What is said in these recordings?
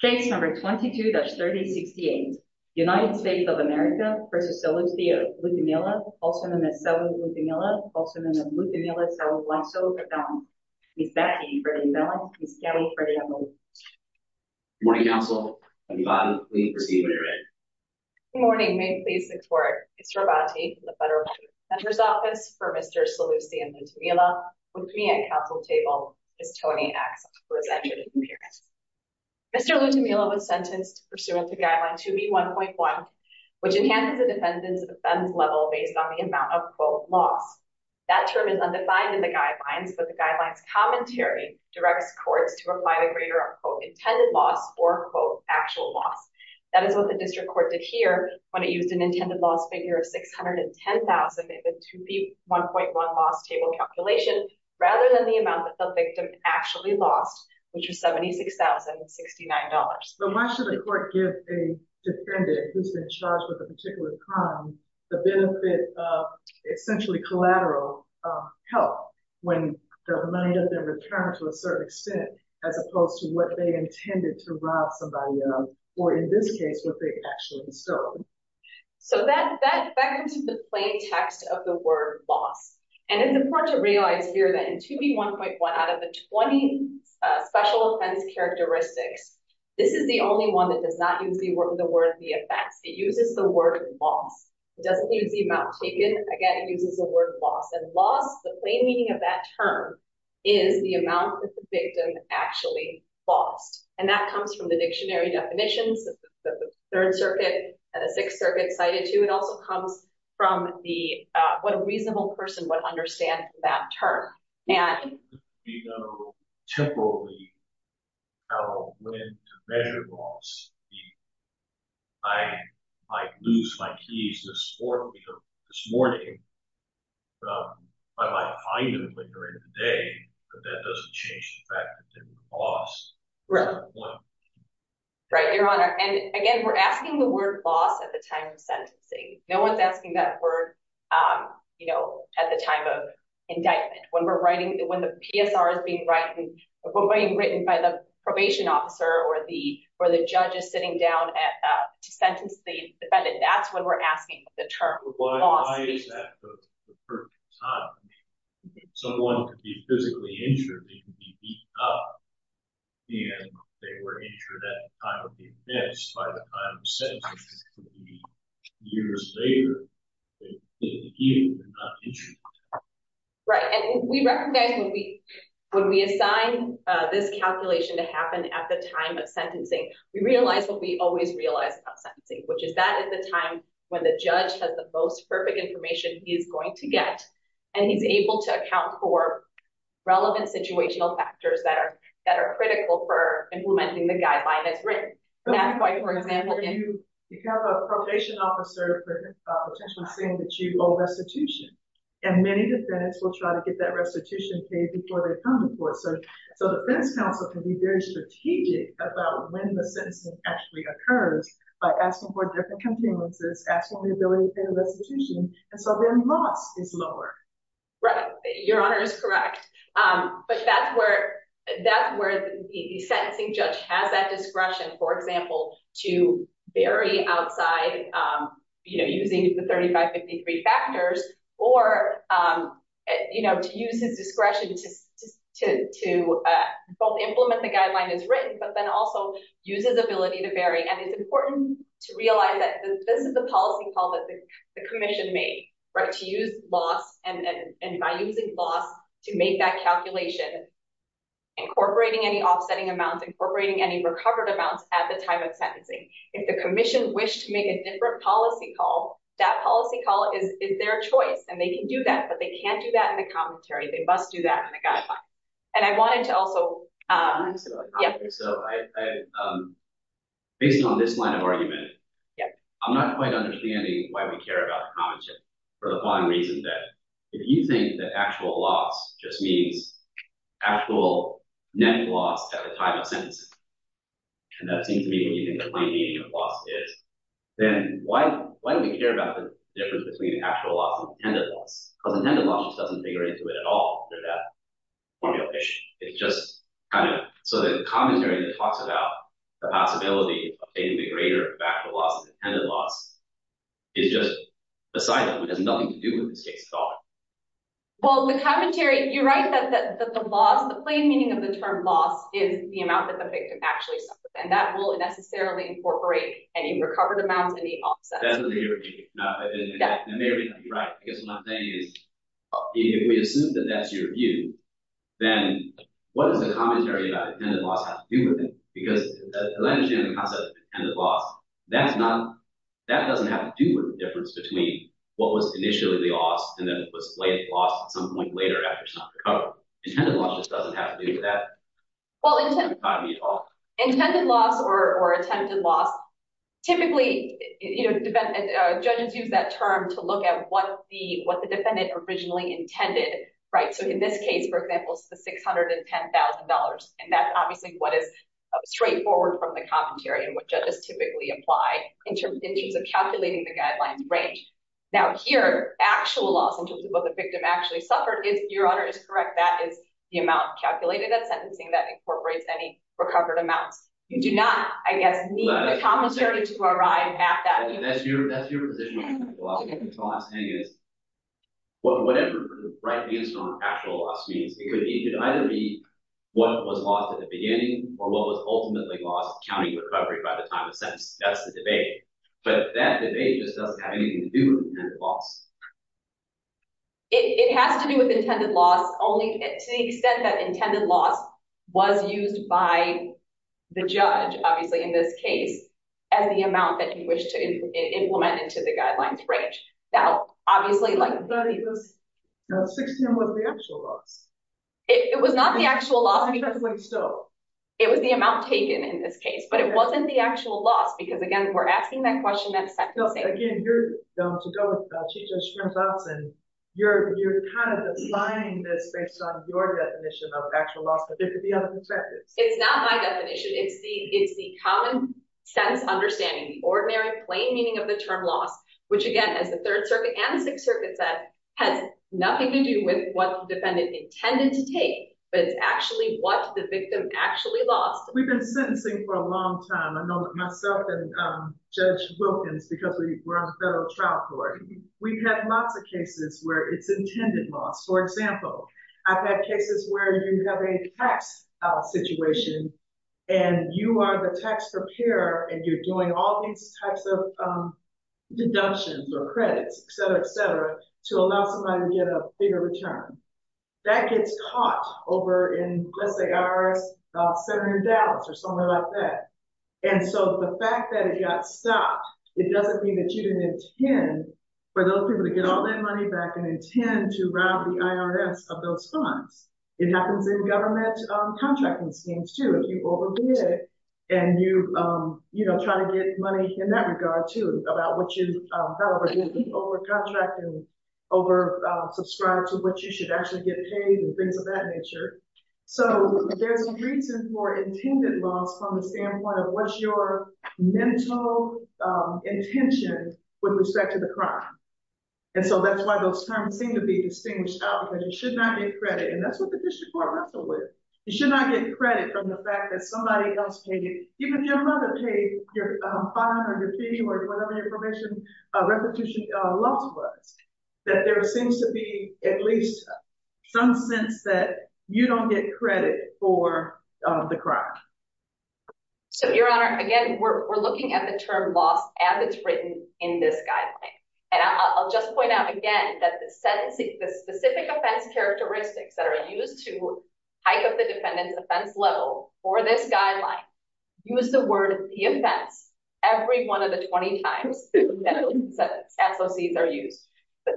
Case number 22-3068. United States of America v. Salusthian Lutamila, also known as Saluth Lutamila, also known as Lutamila Salublaxo Verdon. Miss Becky, Freddie Mellon. Miss Kelly, Freddie Mellon. Good morning, Council. I'm Ivan. Please proceed when you're ready. Good morning. May it please the Court. It's Robonte from the Federal Prosecutor's Office for Mr. Salusthian Lutamila. With me at Council table is Tony Axel for his entrance and appearance. Mr. Lutamila was sentenced pursuant to Guideline 2B1.1, which enhances a defendant's offense level based on the amount of, quote, loss. That term is undefined in the Guidelines, but the Guidelines commentary directs courts to apply the greater, quote, intended loss or, quote, actual loss. That is what the district court did here when it used an intended loss figure of $610,000 in the 2B1.1 loss table calculation rather than the amount that the victim actually lost, which was $76,069. But why should the court give a defendant who's been charged with a particular crime the benefit of essentially collateral help when the money doesn't return to a certain extent as opposed to what they intended to rob somebody of, or in this case, what they actually stole? So, that effected the plain text of the word loss. And it's important to realize here that in 2B1.1 out of the 20 special offense characteristics, this is the only one that does not use the word the offense. It uses the word loss. It doesn't use the amount taken. Again, it uses the word loss. And loss, the plain meaning of that term, is the amount that the victim actually lost. And that comes from the dictionary definitions that the Third Circuit and the Sixth Circuit cited to. It also comes from what a reasonable person would understand for that term. If we know temporarily how to measure loss, I might lose my keys this morning. I might find them later in the day, but that doesn't change the fact that they were lost. Right, Your Honor. And again, we're asking the word loss at the time of sentencing. No one's asking that word at the time of indictment. When the PSR is being written by the probation officer or the judge is sitting down to sentence the defendant, that's when we're asking the term loss. Why is that the perfect time? Someone could be physically injured, they could be beat up, and they were injured at the time of the offense. By the time of sentencing, it could be years later. Right. And we recognize when we assign this calculation to happen at the time of sentencing, we realize what we always realize about sentencing, which is that is the time when the judge has the most perfect information he is going to get, and he's able to account for relevant situational factors that are critical for implementing the guideline that's written. For example, if you have a probation officer potentially saying that you owe restitution, and many defendants will try to get that restitution paid before they come to court. So the defense counsel can be very strategic about when the sentencing actually occurs by asking for different conveniences, asking for the ability to pay the restitution, and so their loss is lower. Right. Your Honor is correct. But that's where the sentencing judge has that discretion, for example, to vary outside, you know, using the 35-53 factors, or, you know, to use his discretion to both implement the guideline as written, but then also use his ability to vary. And it's important to realize that this is the policy call that the commission made, right, to use loss, and by using loss to make that calculation, incorporating any offsetting amounts, incorporating any recovered amounts at the time of sentencing. If the commission wished to make a different policy call, that policy call is their choice, and they can do that, but they can't do that in the commentary. They must do that in the guideline. And I wanted to also… So, based on this line of argument, I'm not quite understanding why we care about commentary, for the one reason that if you think that actual loss just means actual net loss at the time of sentencing, and that seems to be what you think the plain meaning of loss is, then why do we care about the difference between actual loss and intended loss? Because intended loss just doesn't figure into it at all. It's just kind of… So, the commentary that talks about the possibility of obtaining a greater factor loss than intended loss is just a side note. It has nothing to do with this case at all. Well, the commentary… You're right that the loss, the plain meaning of the term loss, is the amount that the victim actually suffers, and that will necessarily incorporate any recovered amounts and any offsets. That may or may not be right, because what I'm saying is, if we assume that that's your view, then what does the commentary about intended loss have to do with it? Because at the end of the day, the concept of intended loss, that doesn't have to do with the difference between what was initially the loss and then what was later lost at some point later after it's not recovered. Intended loss just doesn't have to do with that. Well, intended loss or attempted loss, typically, judges use that term to look at what the defendant originally intended, right? So, in this case, for example, it's the $610,000, and that's obviously what is straightforward from the commentary and what judges typically apply in terms of calculating the guidelines range. Now, here, actual loss in terms of what the victim actually suffered is, Your Honor, is correct. That is the amount calculated at sentencing that incorporates any recovered amounts. You do not, I guess, need the commentary to arrive at that. That's your position on intended loss. What I'm saying is, whatever the right answer on actual loss means, it could either be what was lost at the beginning or what was ultimately lost counting recovery by the time of sentence. That's the debate. But that debate just doesn't have anything to do with intended loss. It has to do with intended loss, to the extent that intended loss was used by the judge, obviously, in this case, as the amount that you wish to implement into the guidelines range. Now, obviously, like... But $610,000 was the actual loss. It was not the actual loss. It was the amount taken in this case. But it wasn't the actual loss because, again, we're asking that question at sentencing. Because, again, you're... To go with Chief Judge Schrims' option, you're kind of applying this based on your definition of actual loss, but there could be other perspectives. It's not my definition. It's the common-sense understanding, the ordinary, plain meaning of the term loss, which, again, as the Third Circuit and the Sixth Circuit said, has nothing to do with what the defendant intended to take, but it's actually what the victim actually lost. We've been sentencing for a long time. I know that myself and Judge Wilkins, because we're on the federal trial court, we've had lots of cases where it's intended loss. For example, I've had cases where you have a tax situation and you are the tax preparer and you're doing all these types of deductions or credits, et cetera, et cetera, to allow somebody to get a bigger return. That gets caught over in, let's say, our center in Dallas or somewhere like that. And so the fact that it got stopped, it doesn't mean that you didn't intend for those people to get all that money back and intend to rob the IRS of those funds. It happens in government contracting schemes, too. If you overdid it and you try to get money in that regard, too, however, you'll be over-contracted and over-subscribed to what you should actually get paid and things of that nature. So there's reason for intended loss from the standpoint of what's your mental intention with respect to the crime. And so that's why those terms seem to be distinguished out, because you should not get credit. And that's what the district court wrestled with. You should not get credit from the fact that somebody else paid it. Even if your mother paid your fine or your fee or whatever your probation loss was, that there seems to be at least some sense that you don't get credit for the crime. So, Your Honor, again, we're looking at the term loss as it's written in this guideline. And I'll just point out again that the specific offense characteristics that are used to hike up the defendant's offense level for this guideline use the word the offense every one of the 20 times that SOCs are used. But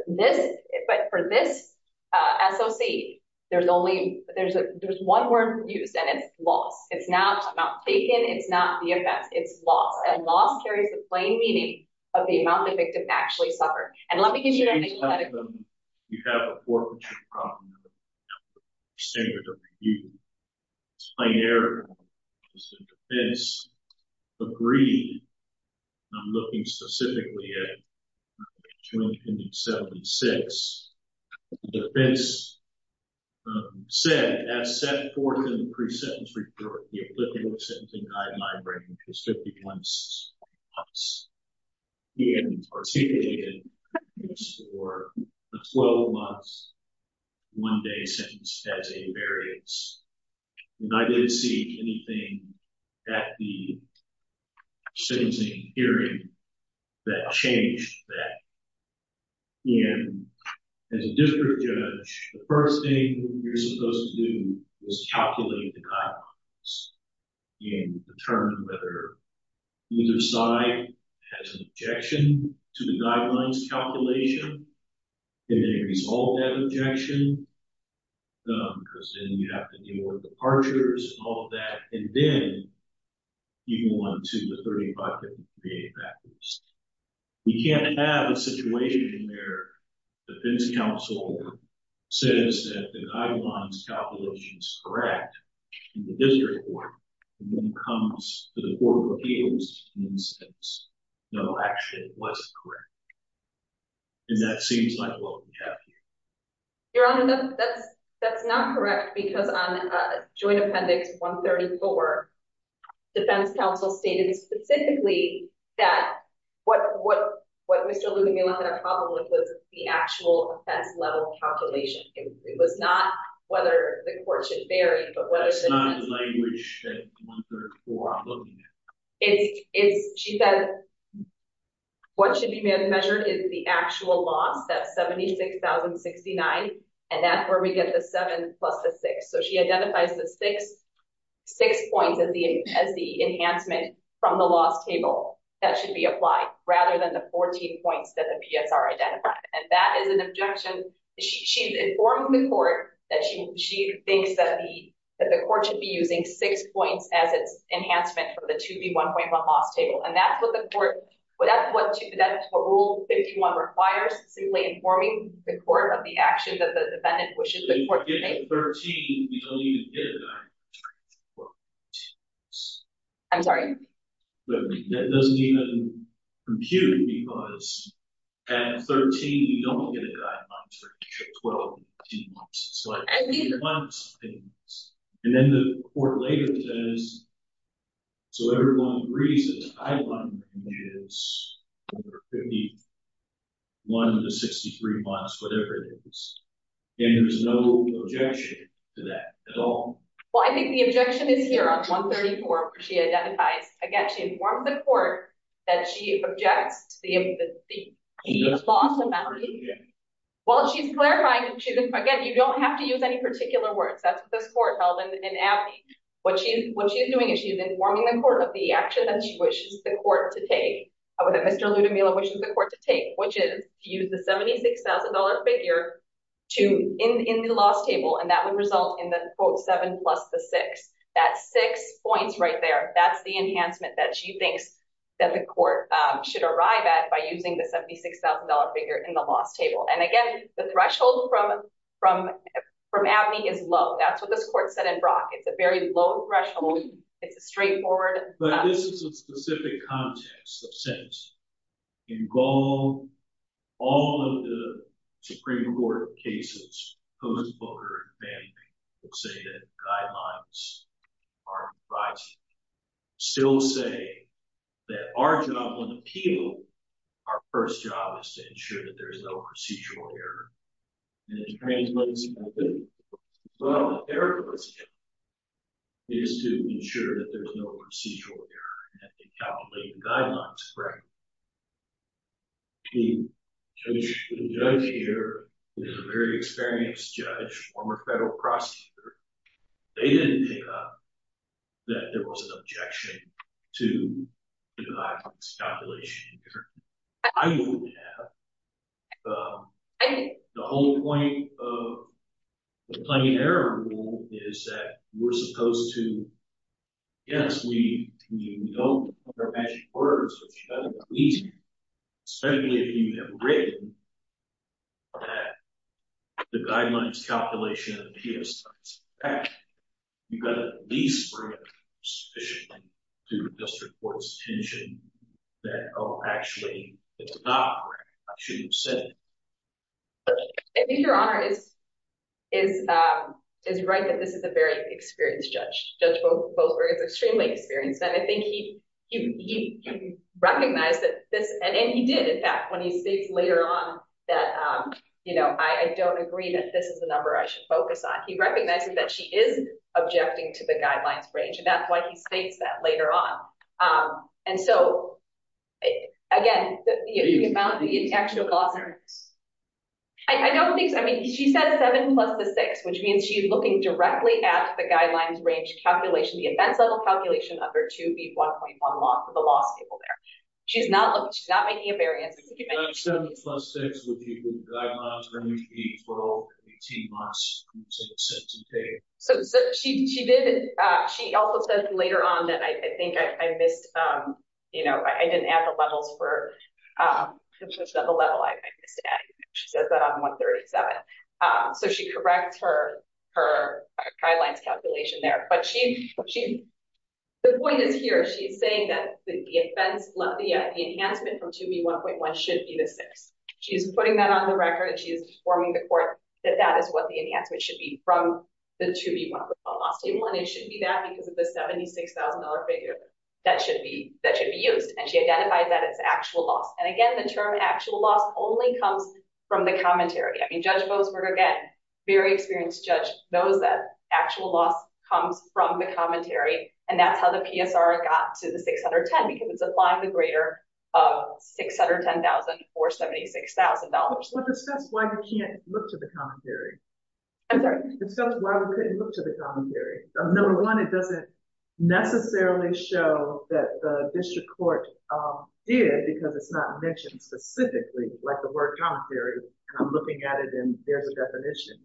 for this SOC, there's one word used, and it's loss. It's not taken. It's not the offense. It's loss. And loss carries the plain meaning of the amount the victim actually suffered. And let me give you an example. If you have a forfeiture problem, standard of review, it's binary. It's a defense agreed. I'm looking specifically at 2076. The defense said, as set forth in the pre-sentence report, the applicable sentencing guideline range is 51 months. The end or seated period is for a 12-month, one-day sentence as a variance. And I didn't see anything at the sentencing hearing that changed that. And as a district judge, the first thing you're supposed to do is calculate the guidelines and determine whether either side has an objection to the guidelines calculation. And then resolve that objection, because then you'd have to do more departures and all of that. And then you go on to the 35 different VA factors. We can't have a situation where the defense counsel says that the guidelines calculation is correct in the district court, and then comes to the court of appeals and says, no, actually, it wasn't correct. And that seems like what we have here. Your Honor, that's not correct because on Joint Appendix 134, the defense counsel stated specifically that what Mr. Lula-Mila had a problem with was the actual offense-level calculation. It was not whether the court should vary, but whether the- That's not the language that I'm looking at. It's, she said, what should be measured is the actual loss, that 76,069, and that's where we get the seven plus the six. So she identifies the six points as the enhancement from the loss table that should be applied, rather than the 14 points that the PSR identified. And that is an objection. She's informing the court that she thinks that the court should be using six points as its enhancement for the 2B1.1 loss table. And that's what the court, that's what Rule 51 requires, simply informing the court of the action that the defendant wishes the court to make. I'm getting 13. You don't even get a guideline for 12 months. I'm sorry? That doesn't even compute because at 13, you don't get a guideline for 12 months. I mean- And then the court later says, so everyone agrees that the guideline is for 51 to 63 months, and there's no objection to that at all? Well, I think the objection is here on 134, where she identifies, again, she informs the court that she objects to the loss amount. Well, she's clarifying, again, you don't have to use any particular words. That's what this court held in Abney. What she's doing is she's informing the court of the action that she wishes the court to take, wishes the court to take, which is to use the $76,000 figure in the loss table, and that would result in the, quote, 7 plus the 6. That's six points right there. That's the enhancement that she thinks that the court should arrive at by using the $76,000 figure in the loss table. And, again, the threshold from Abney is low. That's what this court said in Brock. It's a very low threshold. It's a straightforward- sentence. In Gaul, all of the Supreme Court cases, post-Voter and Abney, would say that guidelines are right. Still say that our job on appeal, our first job is to ensure that there is no procedural error. And it explains what it's about. What I want Eric to understand is to ensure that there's no procedural error and that they calculate the guidelines correctly. The judge here is a very experienced judge, former federal prosecutor. They didn't pick up that there was an objection to the guidelines calculation. I know we have. The whole point of the plain error rule is that we're supposed to, yes, we know there are magic words, but you've got to at least, certainly if you have written that the guidelines calculation and the appeals are correct, you've got to at least bring it to the district court's attention that, oh, actually, it's not correct. I shouldn't have said it. I think your Honor is right that this is a very experienced judge. It's extremely experienced. And I think he recognized that this, and he did. In fact, when he states later on that, you know, I don't agree that this is the number I should focus on. He recognizes that she is objecting to the guidelines range. And that's why he states that later on. And so, again, the amount of the actual. I don't think so. I mean, she said seven plus the six, which means she's looking directly at the guidelines range calculation, the events level calculation under 2B1.1 law for the law school there. She's not making a variance. Seven plus six would be the guidelines range for 18 months. So she did. She also said later on that I think I missed, you know, I didn't add the levels for the level I missed adding. She says that on 137. So she corrects her, her guidelines calculation there. But she, she, the point is here. She is saying that the offense, the enhancement from 2B1.1 should be the six. She's putting that on the record and she is informing the court that that is what the enhancement should be from the 2B1.1 law school. And it should be that because of the $76,000 figure that should be, that should be used. And she identified that it's actual loss. And again, the term actual loss only comes from the commentary. I mean, judge Boasberg, again, very experienced judge knows that actual loss comes from the commentary. And that's how the PSR got to the 610 because it's applying the greater 610,000 or $76,000. That's why you can't look to the commentary. I'm sorry. That's why we couldn't look to the commentary. Number one, it doesn't necessarily show that the district court did because it's not mentioned specifically like the word commentary. I'm looking at it and there's a definition,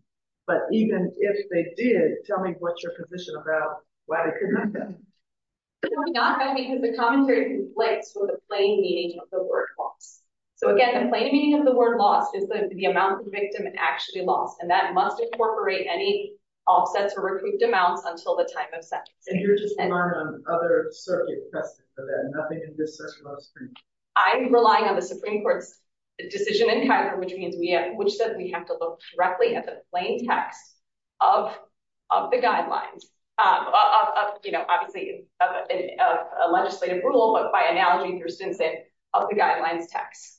but even if they did, tell me what's your position about why they couldn't do that. Not because the commentary conflicts with the plain meaning of the word loss. So again, the plain meaning of the word loss is the amount of the victim actually lost. And that must incorporate any offsets or recouped amounts until the time of sentence. And you're just relying on other circuit precedent for that. Nothing in this section of the Supreme court. I'm relying on the Supreme court's decision in kind of, which means we have, which says we have to look directly at the plain text of, of the guidelines of, you know, obviously a legislative rule, but by analogy through Stinson of the guidelines texts.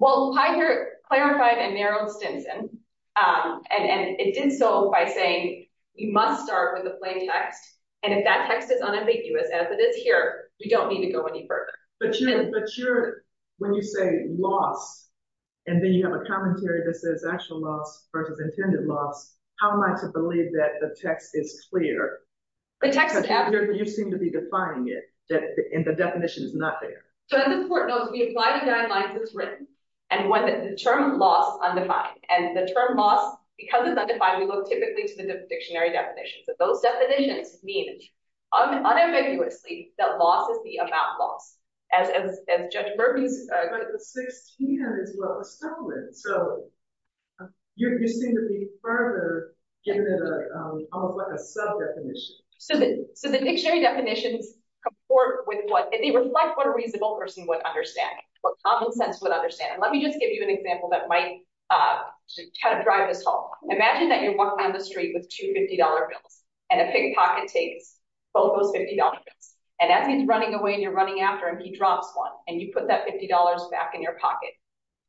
Well, I hear clarified and narrowed Stinson and it did so by saying you must start with the plain text. And if that text is unambiguous as it is here, we don't need to go any further. But you're, but you're when you say loss and then you have a commentary that says actual loss versus intended loss. How am I to believe that the text is clear? You seem to be defining it, that the definition is not there. So as the court knows, we apply the guidelines it's written and when the term loss undefined and the term loss, because it's undefined, we look typically to the dictionary definitions of those definitions. Unambiguously, that loss is the amount loss as, as, as judge Murphy's. But the 16 is what was stolen. So you're, you seem to be further giving it a, almost like a sub definition. So the, so the dictionary definitions comport with what they reflect, what a reasonable person would understand, what common sense would understand. And let me just give you an example that might kind of drive this home. Imagine that you're walking down the street with two $50 bills and a pick pocket tapes, both those $50 bills. And as he's running away and you're running after him, he drops one and you put that $50 back in your pocket.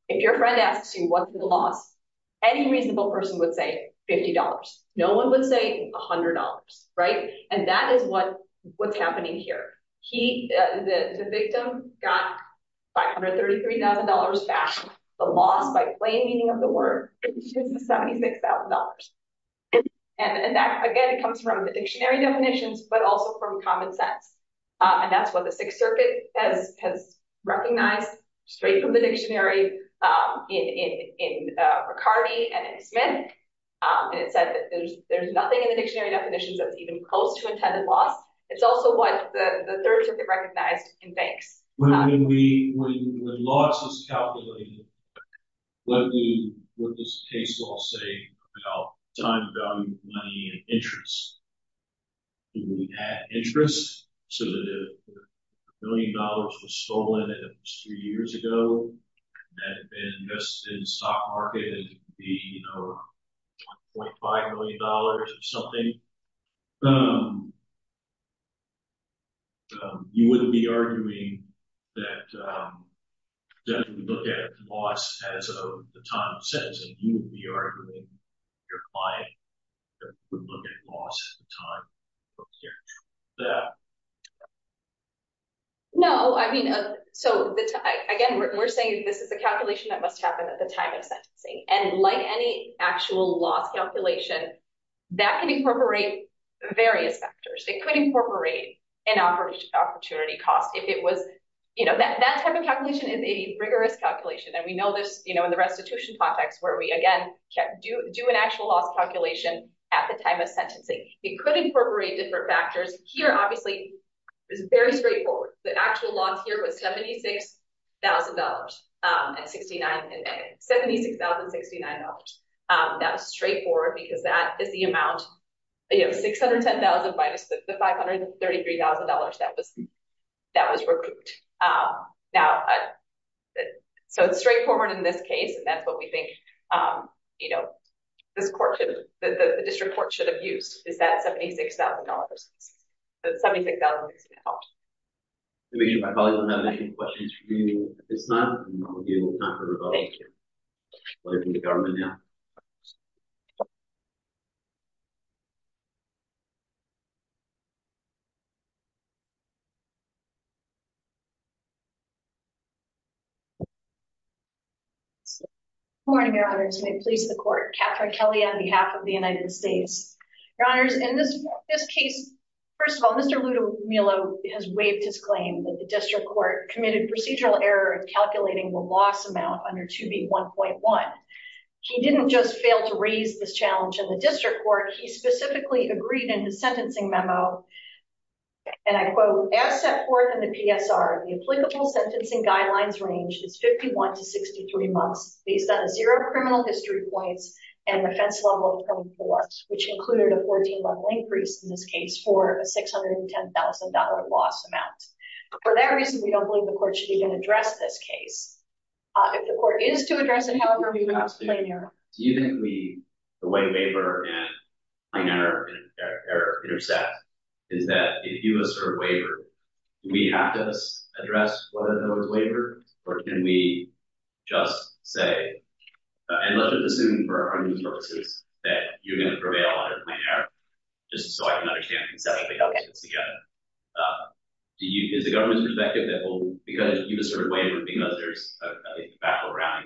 If your friend asks you what's the loss, any reasonable person would say $50. No one would say a hundred dollars. Right. And that is what, what's happening here. He, the victim got $533,000 back. The loss by plain meaning of the word is the $76,000. And that, again, it comes from the dictionary definitions, but also from common sense. And that's what the sixth circuit has, has recognized straight from the dictionary in, in, in Riccardi and Smith. And it said that there's, there's nothing in the dictionary definitions that's even close to intended loss. It's also what the third should be recognized in banks. When we, when, when loss is calculated, what we, what does the case law say about time, value, money, and interest? Do we add interest so that if a million dollars was stolen three years ago, that had been invested in stock market, it'd be, you know, 0.5 million dollars or something. Um, um, you wouldn't be arguing that, um, definitely look at loss as a, the time of sentencing, you would be arguing your client would look at loss at the time. Yeah. No, I mean, so again, we're saying this is a calculation that must happen at the time of sentencing. And like any actual loss calculation that can incorporate various factors, it could incorporate an opportunity cost. If it was, you know, that type of calculation is a rigorous calculation. And we know this, you know, in the restitution context where we, again, do an actual loss calculation at the time of sentencing, it could incorporate different factors here. Obviously it's very straightforward. The actual loss here was $76,000. Um, at 69, 76,000 69. Um, that was straightforward because that is the amount. You have 610,000 minus the $533,000. That was, that was recouped. Um, now. So it's straightforward in this case. And that's what we think, um, you know, this court should, the district court should have used is that $76,000. 76,000. I probably don't have any questions for you. It's not, you know, you will not hear about it. Welcome to government. Yeah. Morning. May please the court. Catherine Kelly on behalf of the United States. Your honors in this. This case. First of all, Mr. Mello has waived his claim that the district court committed procedural error. Calculating the loss amount under to be 1.1. He didn't just fail to raise this challenge in the district court. He specifically agreed in his sentencing memo. And I quote asset for the PSR. The applicable sentencing guidelines range is 51 to 63 months. He's got a zero criminal history points. And the fence level. Which included a 14 level increase in this case for a $610,000 loss amount. For that reason, we don't believe the court should even address this case. If the court is to address it, however, do you think we, the way waiver. I never. Intercept. Is that if you assert waiver. We have to address. What are those waivers? Or can we just say. And let's just assume for our purposes. That you're going to prevail. Just so I can understand. Yeah. Do you, is the government's perspective that will, because you just sort of wavered because there's. Back around.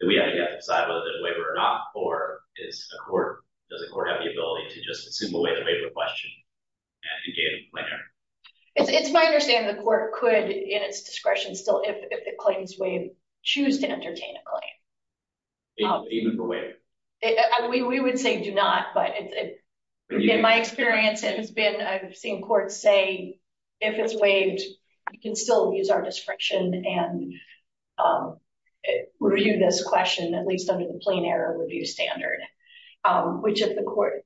That we have to decide whether the waiver or not, or it's a court. Does the court have the ability to just assume away the waiver question? It's my understanding. The court could in its discretion still, if it claims way. Choose to entertain a claim. Even for way. We would say do not, But in my experience, it has been, I've seen courts say. If it's waived, You can still use our discretion and. Review this question, at least under the plain error review standard. Which is the court.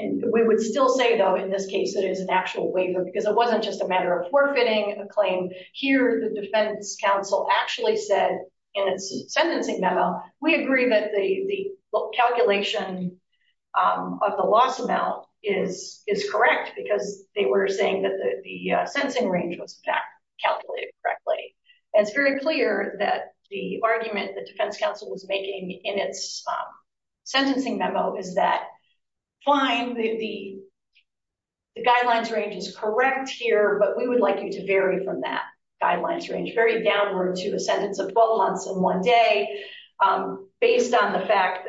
And we would still say though, in this case, it is an actual waiver because it wasn't just a matter of forfeiting a claim here. The defense council actually said. And it's sentencing memo. We agree that the calculation. Of the loss amount is, is correct because they were saying that the sensing range was. Calculated correctly. And it's very clear that the argument, the defense council was making in its. Sentencing memo is that. Fine. The. The guidelines range is correct here, but we would like you to vary from that. Guidelines range, Very downward to a sentence of 12 months in one day. Based on the fact.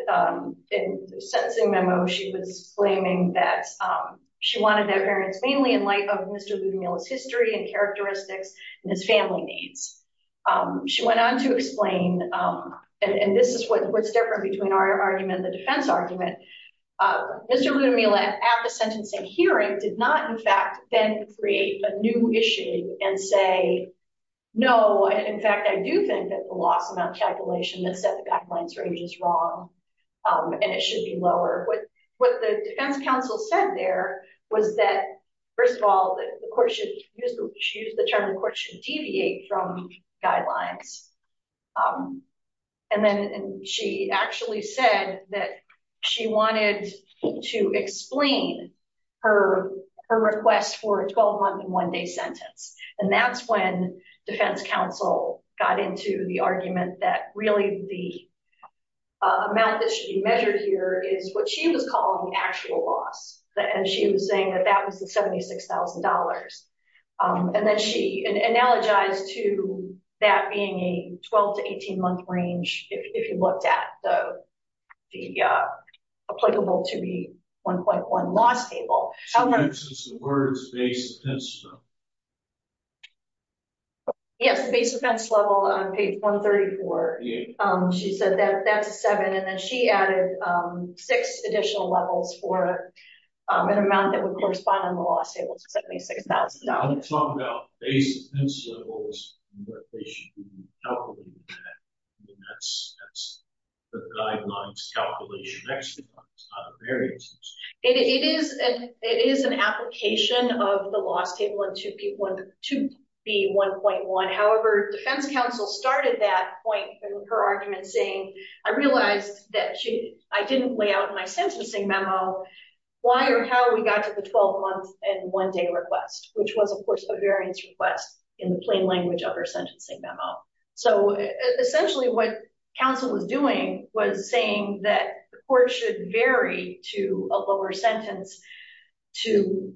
In the sentencing memo, she was. Claiming that. She wanted their parents mainly in light of Mr. Ludomila's history and characteristics. And his family needs. She went on to explain. And this is what's different between our argument. The defense argument. Mr. Ludomila at the sentencing hearing did not. Create a new issue and say, no, in fact, I do think that the loss amount calculation that set the back lines range is wrong. And it should be lower. What the defense council said there was that. First of all, the court should. Choose the term of the court should deviate from guidelines. And then she actually said that she wanted to explain. Her request for a 12 month in one day sentence. And that's when defense council got into the argument that really the. Amount that should be measured here is what she was calling the actual loss. And she was saying that that was the $76,000. And then she analogized to that being a 12 to 18 month range. If you looked at the. Applicable to be 1.1. Last table. Yes. On page 134. She said that that's a seven. And then she added six additional levels for. On the law. $76,000. It is. It is an application of the last table and two people. To be 1.1. However, defense council started that point. Her argument saying, I realized that. I didn't lay out my sentencing memo. So. Why or how we got to the 12 months and one day request, which was of course, a variance request. In the plain language of her sentencing memo. So. Essentially what council was doing was saying that the court should vary to a lower sentence. To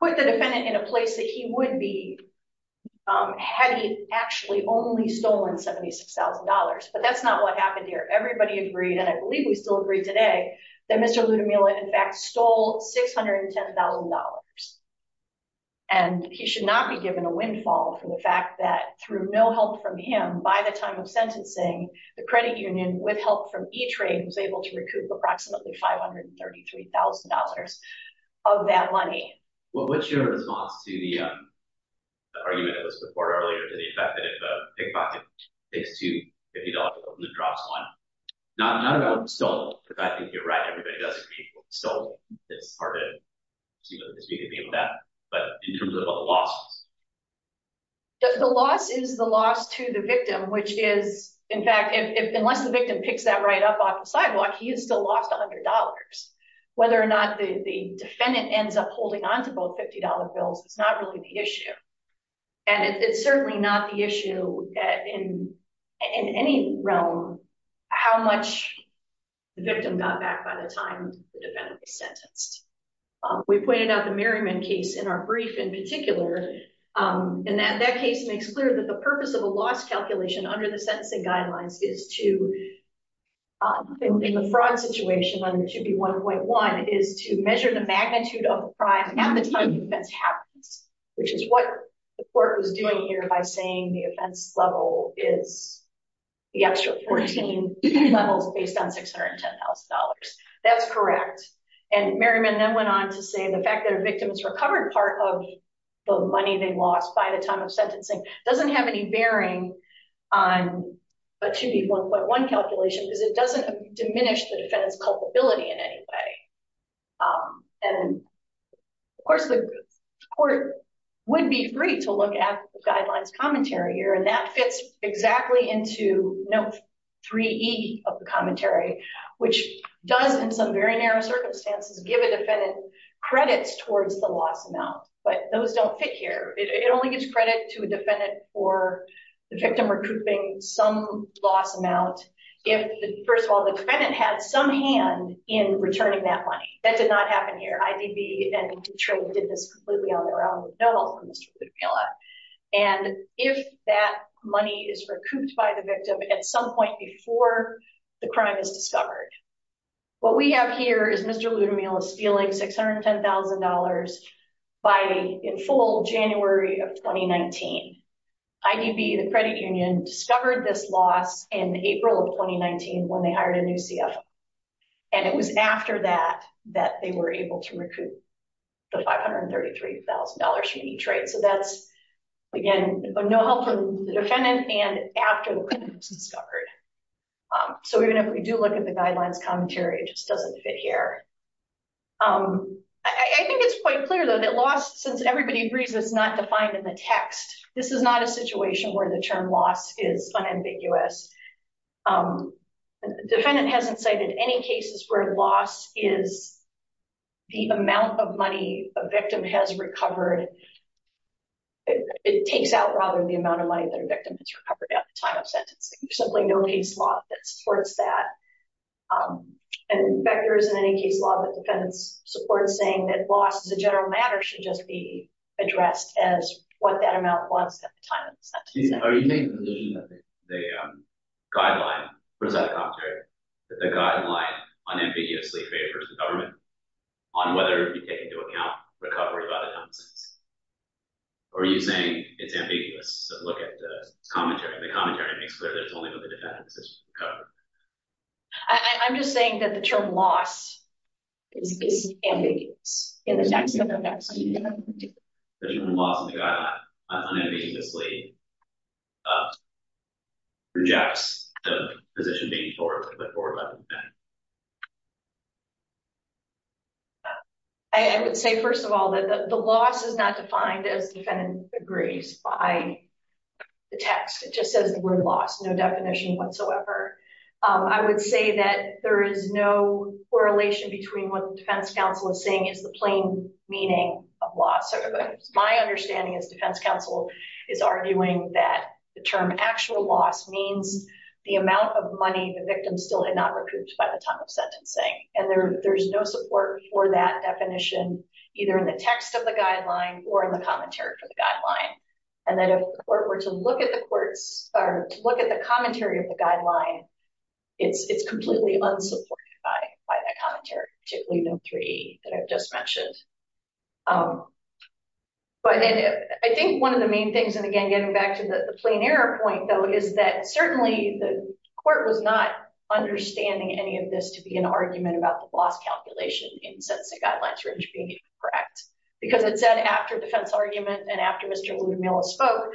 put the defendant in a place that he would be. In a place that he would be. In a place that he would be. Had he actually only stolen $76,000, but that's not what happened here. Everybody agreed. And I believe we still agree today. That Mr. Ludomila in fact, stole $610,000. And he should not be given a windfall from the fact that through no help from him, by the time of sentencing. The credit union with help from each rate was able to recoup approximately $533,000. Of that money. Well, what's your response to the. The argument. It was before earlier to the effect that if a pickpocket. It's too. If you don't. The drops one. Not about. I think you're right. Everybody does. So. It's part of. But in terms of. The loss is the loss to the victim, which is in fact. Unless the victim picks that right up off the sidewalk, he is still lost a hundred dollars. Whether or not the defendant ends up holding on to both $50 bills. It's not really the issue. And it's certainly not the issue. In any realm. How much. The victim got back by the time. Sentenced. We pointed out the Merriman case in our brief in particular. And that that case makes clear that the purpose of a loss calculation under the sentencing guidelines is to. In the fraud situation. It should be 1.1 is to measure the magnitude of. Half the time. That's happens. Which is what. The court was doing here by saying the offense level is. The extra 14. Levels based on $610,000. That's correct. And Merriman then went on to say the fact that a victim is recovered. Part of. The money they lost by the time of sentencing. Doesn't have any bearing. On. But should be 1.1 calculation because it doesn't. Diminish the defendant's culpability in any way. And. Of course the. Court. Would be free to look at the guidelines commentary here. And that fits exactly into note. Three E of the commentary. Which does in some very narrow circumstances, give a defendant. Credits towards the loss amount. But those don't fit here. It only gives credit to a defendant or. The victim recouping some loss amount. First of all, the defendant had some hand in returning that money. That did not happen here. I did be. Did this completely on their own? No. And if that money is recouped by the victim at some point before. The crime is discovered. What we have here is Mr. $610,000. By in full January of 2019. IDB, the credit union discovered this loss in April of 2019. When they hired a new CF. And it was after that, that they were able to recoup. The $533,000 for each. Right? So that's. Again, no help from the defendant and after. It's discovered. So even if we do look at the guidelines commentary, it just doesn't fit here. I think it's quite clear though, that lost since everybody agrees, it's not defined in the text. This is not a situation where the term loss is unambiguous. Defendant hasn't cited any cases where loss is. The amount of money a victim has recovered. It takes out rather than the amount of money that a victim has recovered at the time of sentencing. There's simply no case law that supports that. And there isn't any case law that defends support saying that loss is a general matter should just be addressed as what that amount was at the time of the sentence. Are you saying the. Guideline. The guideline unambiguously favors the government. On whether it'd be taken into account recovery. Are you saying it's ambiguous? Look at the commentary. The commentary makes clear. There's only what the defense. I'm just saying that the term loss. Is ambiguous. In the text. Unambiguously. Rejects. I would say, first of all, that the, the loss is not defined as defendant agrees by. The text, it just says the word loss, no definition whatsoever. I would say that there is no correlation between what the defense counsel is saying is the plain meaning of loss. My understanding is defense counsel. Is arguing that the term actual loss means. The amount of money. The victim still had not recouped by the time of sentencing. And there, there's no support for that definition. Either in the text of the guideline or in the commentary for the guideline. And then if the court were to look at the courts or look at the commentary of the guideline. It's, it's completely unsupported. By that commentary. Three that I've just mentioned. But I think one of the main things, and again, getting back to the plain error point though, is that certainly the court was not understanding any of this to be an argument about the loss calculation in sense of guidelines. Correct. Because it said after defense argument and after Mr. Miller spoke.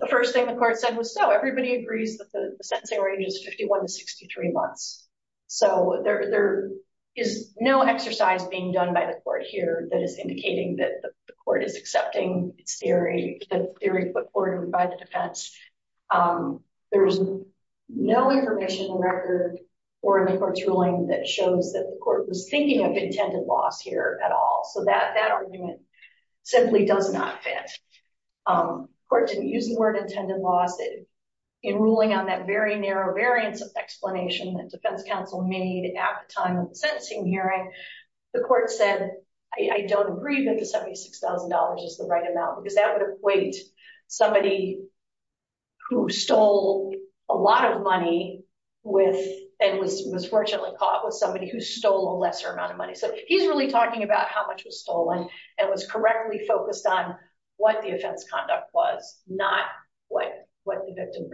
The first thing the court said was so everybody agrees that the sense they were ages 51 to 63 months. So there, there is no exercise being done by the court here that is indicating that the court is accepting its theory. The theory put forward by the defense. There's no information in the record or in the court's ruling that shows that the court was thinking of intended loss here at all. So that, that argument simply does not fit. Court didn't use the word intended loss. In ruling on that very narrow variance of explanation that defense counsel made at the time of the sentencing hearing, the court said, I don't agree that the $76,000 is the right amount, because that would equate somebody who stole a lot of money with, and was, was fortunately caught with somebody who stole a lesser amount of money. So he's really talking about how much was stolen and was correctly focused on what the offense conduct was, not what the victim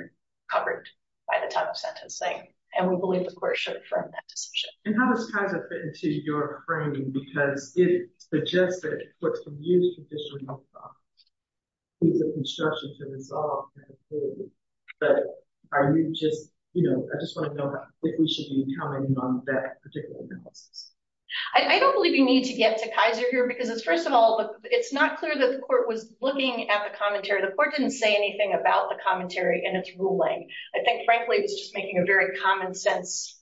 covered by the time of sentencing. And we believe the court should affirm that decision. And how does Kaiser fit into your framing? Because it suggests that it's what's been used traditionally. It's a construction to resolve that theory. But are you just, you know, I just want to know if we should be commenting on that particular analysis. I don't believe you need to get to Kaiser here because it's, first of all, it's not clear that the court was looking at the commentary. The court didn't say anything about the commentary and its ruling. I think frankly, it's just making a very common sense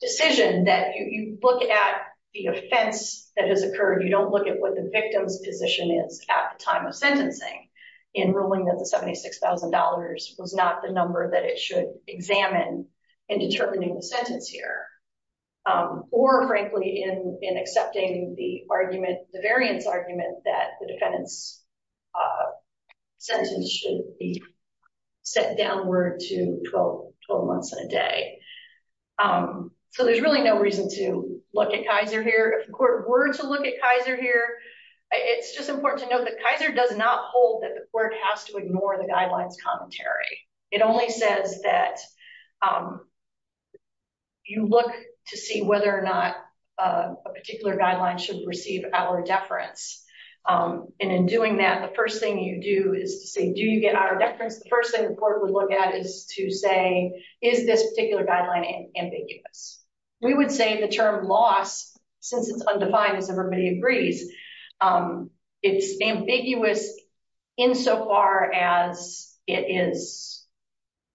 decision that you look at the offense that has occurred. You don't look at what the victim's position is at the time of sentencing in ruling that the $76,000 was not the number that it should examine in determining the sentence here, or frankly, in, in accepting the argument, the variance argument that the defendant's sentence should be set downward to 12 months and a day. So there's really no reason to look at Kaiser here. If the court were to look at Kaiser here, it's just important to note that Kaiser does not hold that the court has to ignore the guidelines commentary. It only says that you look to see whether or not a particular guideline should receive our deference. And in doing that, the first thing you do is to say, do you get our deference? The first thing the court would look at is to say, is this particular guideline ambiguous? We would say the term loss, since it's undefined as everybody agrees, it's ambiguous insofar as it is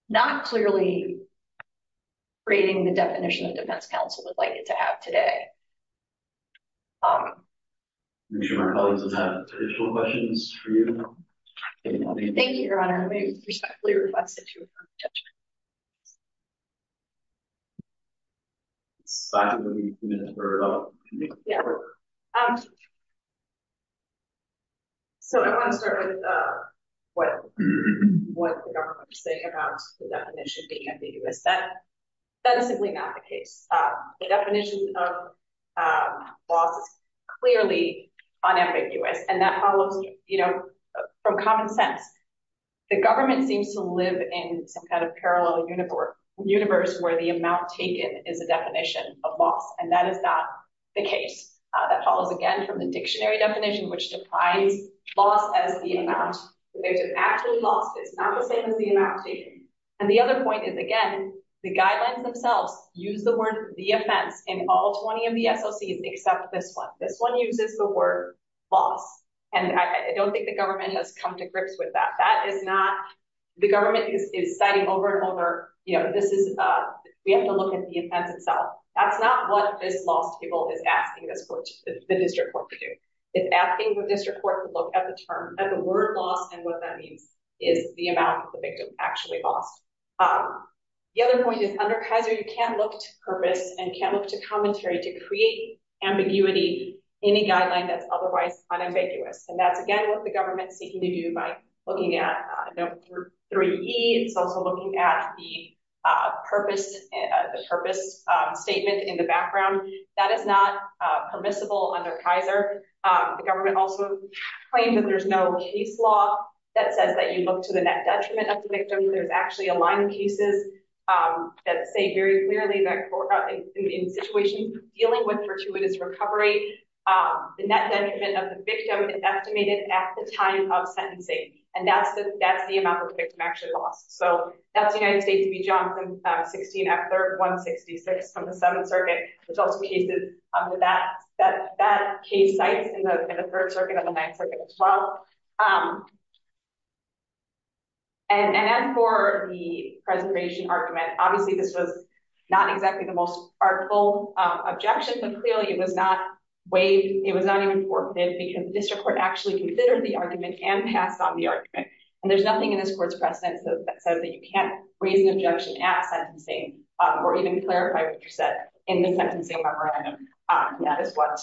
not clearly creating the definition of I'm sure my colleagues will have additional questions for you. Thank you, Your Honor. We respectfully request that you affirm the judgment. So I want to start with what the government is saying about the definition That is simply not the case. The definition of loss is clearly unambiguous. And that follows from common sense. The government seems to live in some kind of parallel universe where the amount taken is a definition of loss. And that is not the case. That follows again from the dictionary definition, which defines loss as the amount. It's not the same as the amount taken. And the other point is, again, the guidelines themselves use the word the offense in all 20 of the SOCs except this one. This one uses the word loss. And I don't think the government has come to grips with that. That is not, the government is citing over and over. You know, this is, we have to look at the offense itself. That's not what this loss table is asking the district court to do. It's asking the district court to look at the term and the word loss and what that means is the amount of the victim actually lost. The other point is under Kaiser, you can't look to purpose and can't look to commentary to create ambiguity, any guideline that's otherwise unambiguous. And that's, again, what the government's seeking to do by looking at number three, it's also looking at the purpose, the purpose statement in the background that is not permissible under Kaiser. The government also claimed that there's no case law that says that you look to the net detriment of the victim. There's actually a line of cases that say very clearly that in situations dealing with fortuitous recovery, the net detriment of the victim is estimated at the time of sentencing. And that's the, that's the amount of the victim actually lost. So that's the United States to be Jonathan 16 at 166 from the seventh circuit, which also cases under that, that case sites in the third circuit of the ninth circuit as well. And then for the presentation argument, obviously this was not exactly the most artful objection, but clearly it was not waived. It was not even forfeit because the district court actually considered the argument and passed on the argument. And there's nothing in this court's precedence that says that you can't raise an objection at sentencing, or even clarify what you said in the sentencing memorandum. That is what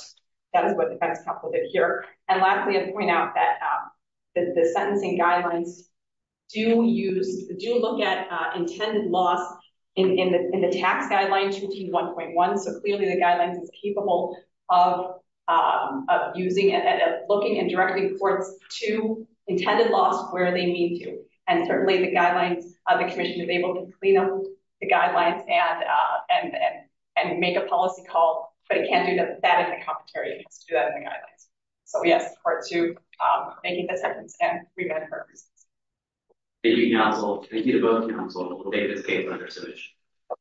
that is. And lastly, I point out that the sentencing guidelines do use, do look at intended loss in, in the, in the tax guideline, 21.1. So clearly the guidelines is capable of using it, looking and directly reports to intended loss where they need to. And certainly the guidelines of the commission is able to clean up the guidelines and, and, and make a policy call, but it can't do that in the cafeteria. It has to do that in the guidelines. So yes, part two, making the sentence and prevent her. Thank you. Thank you to both. Okay.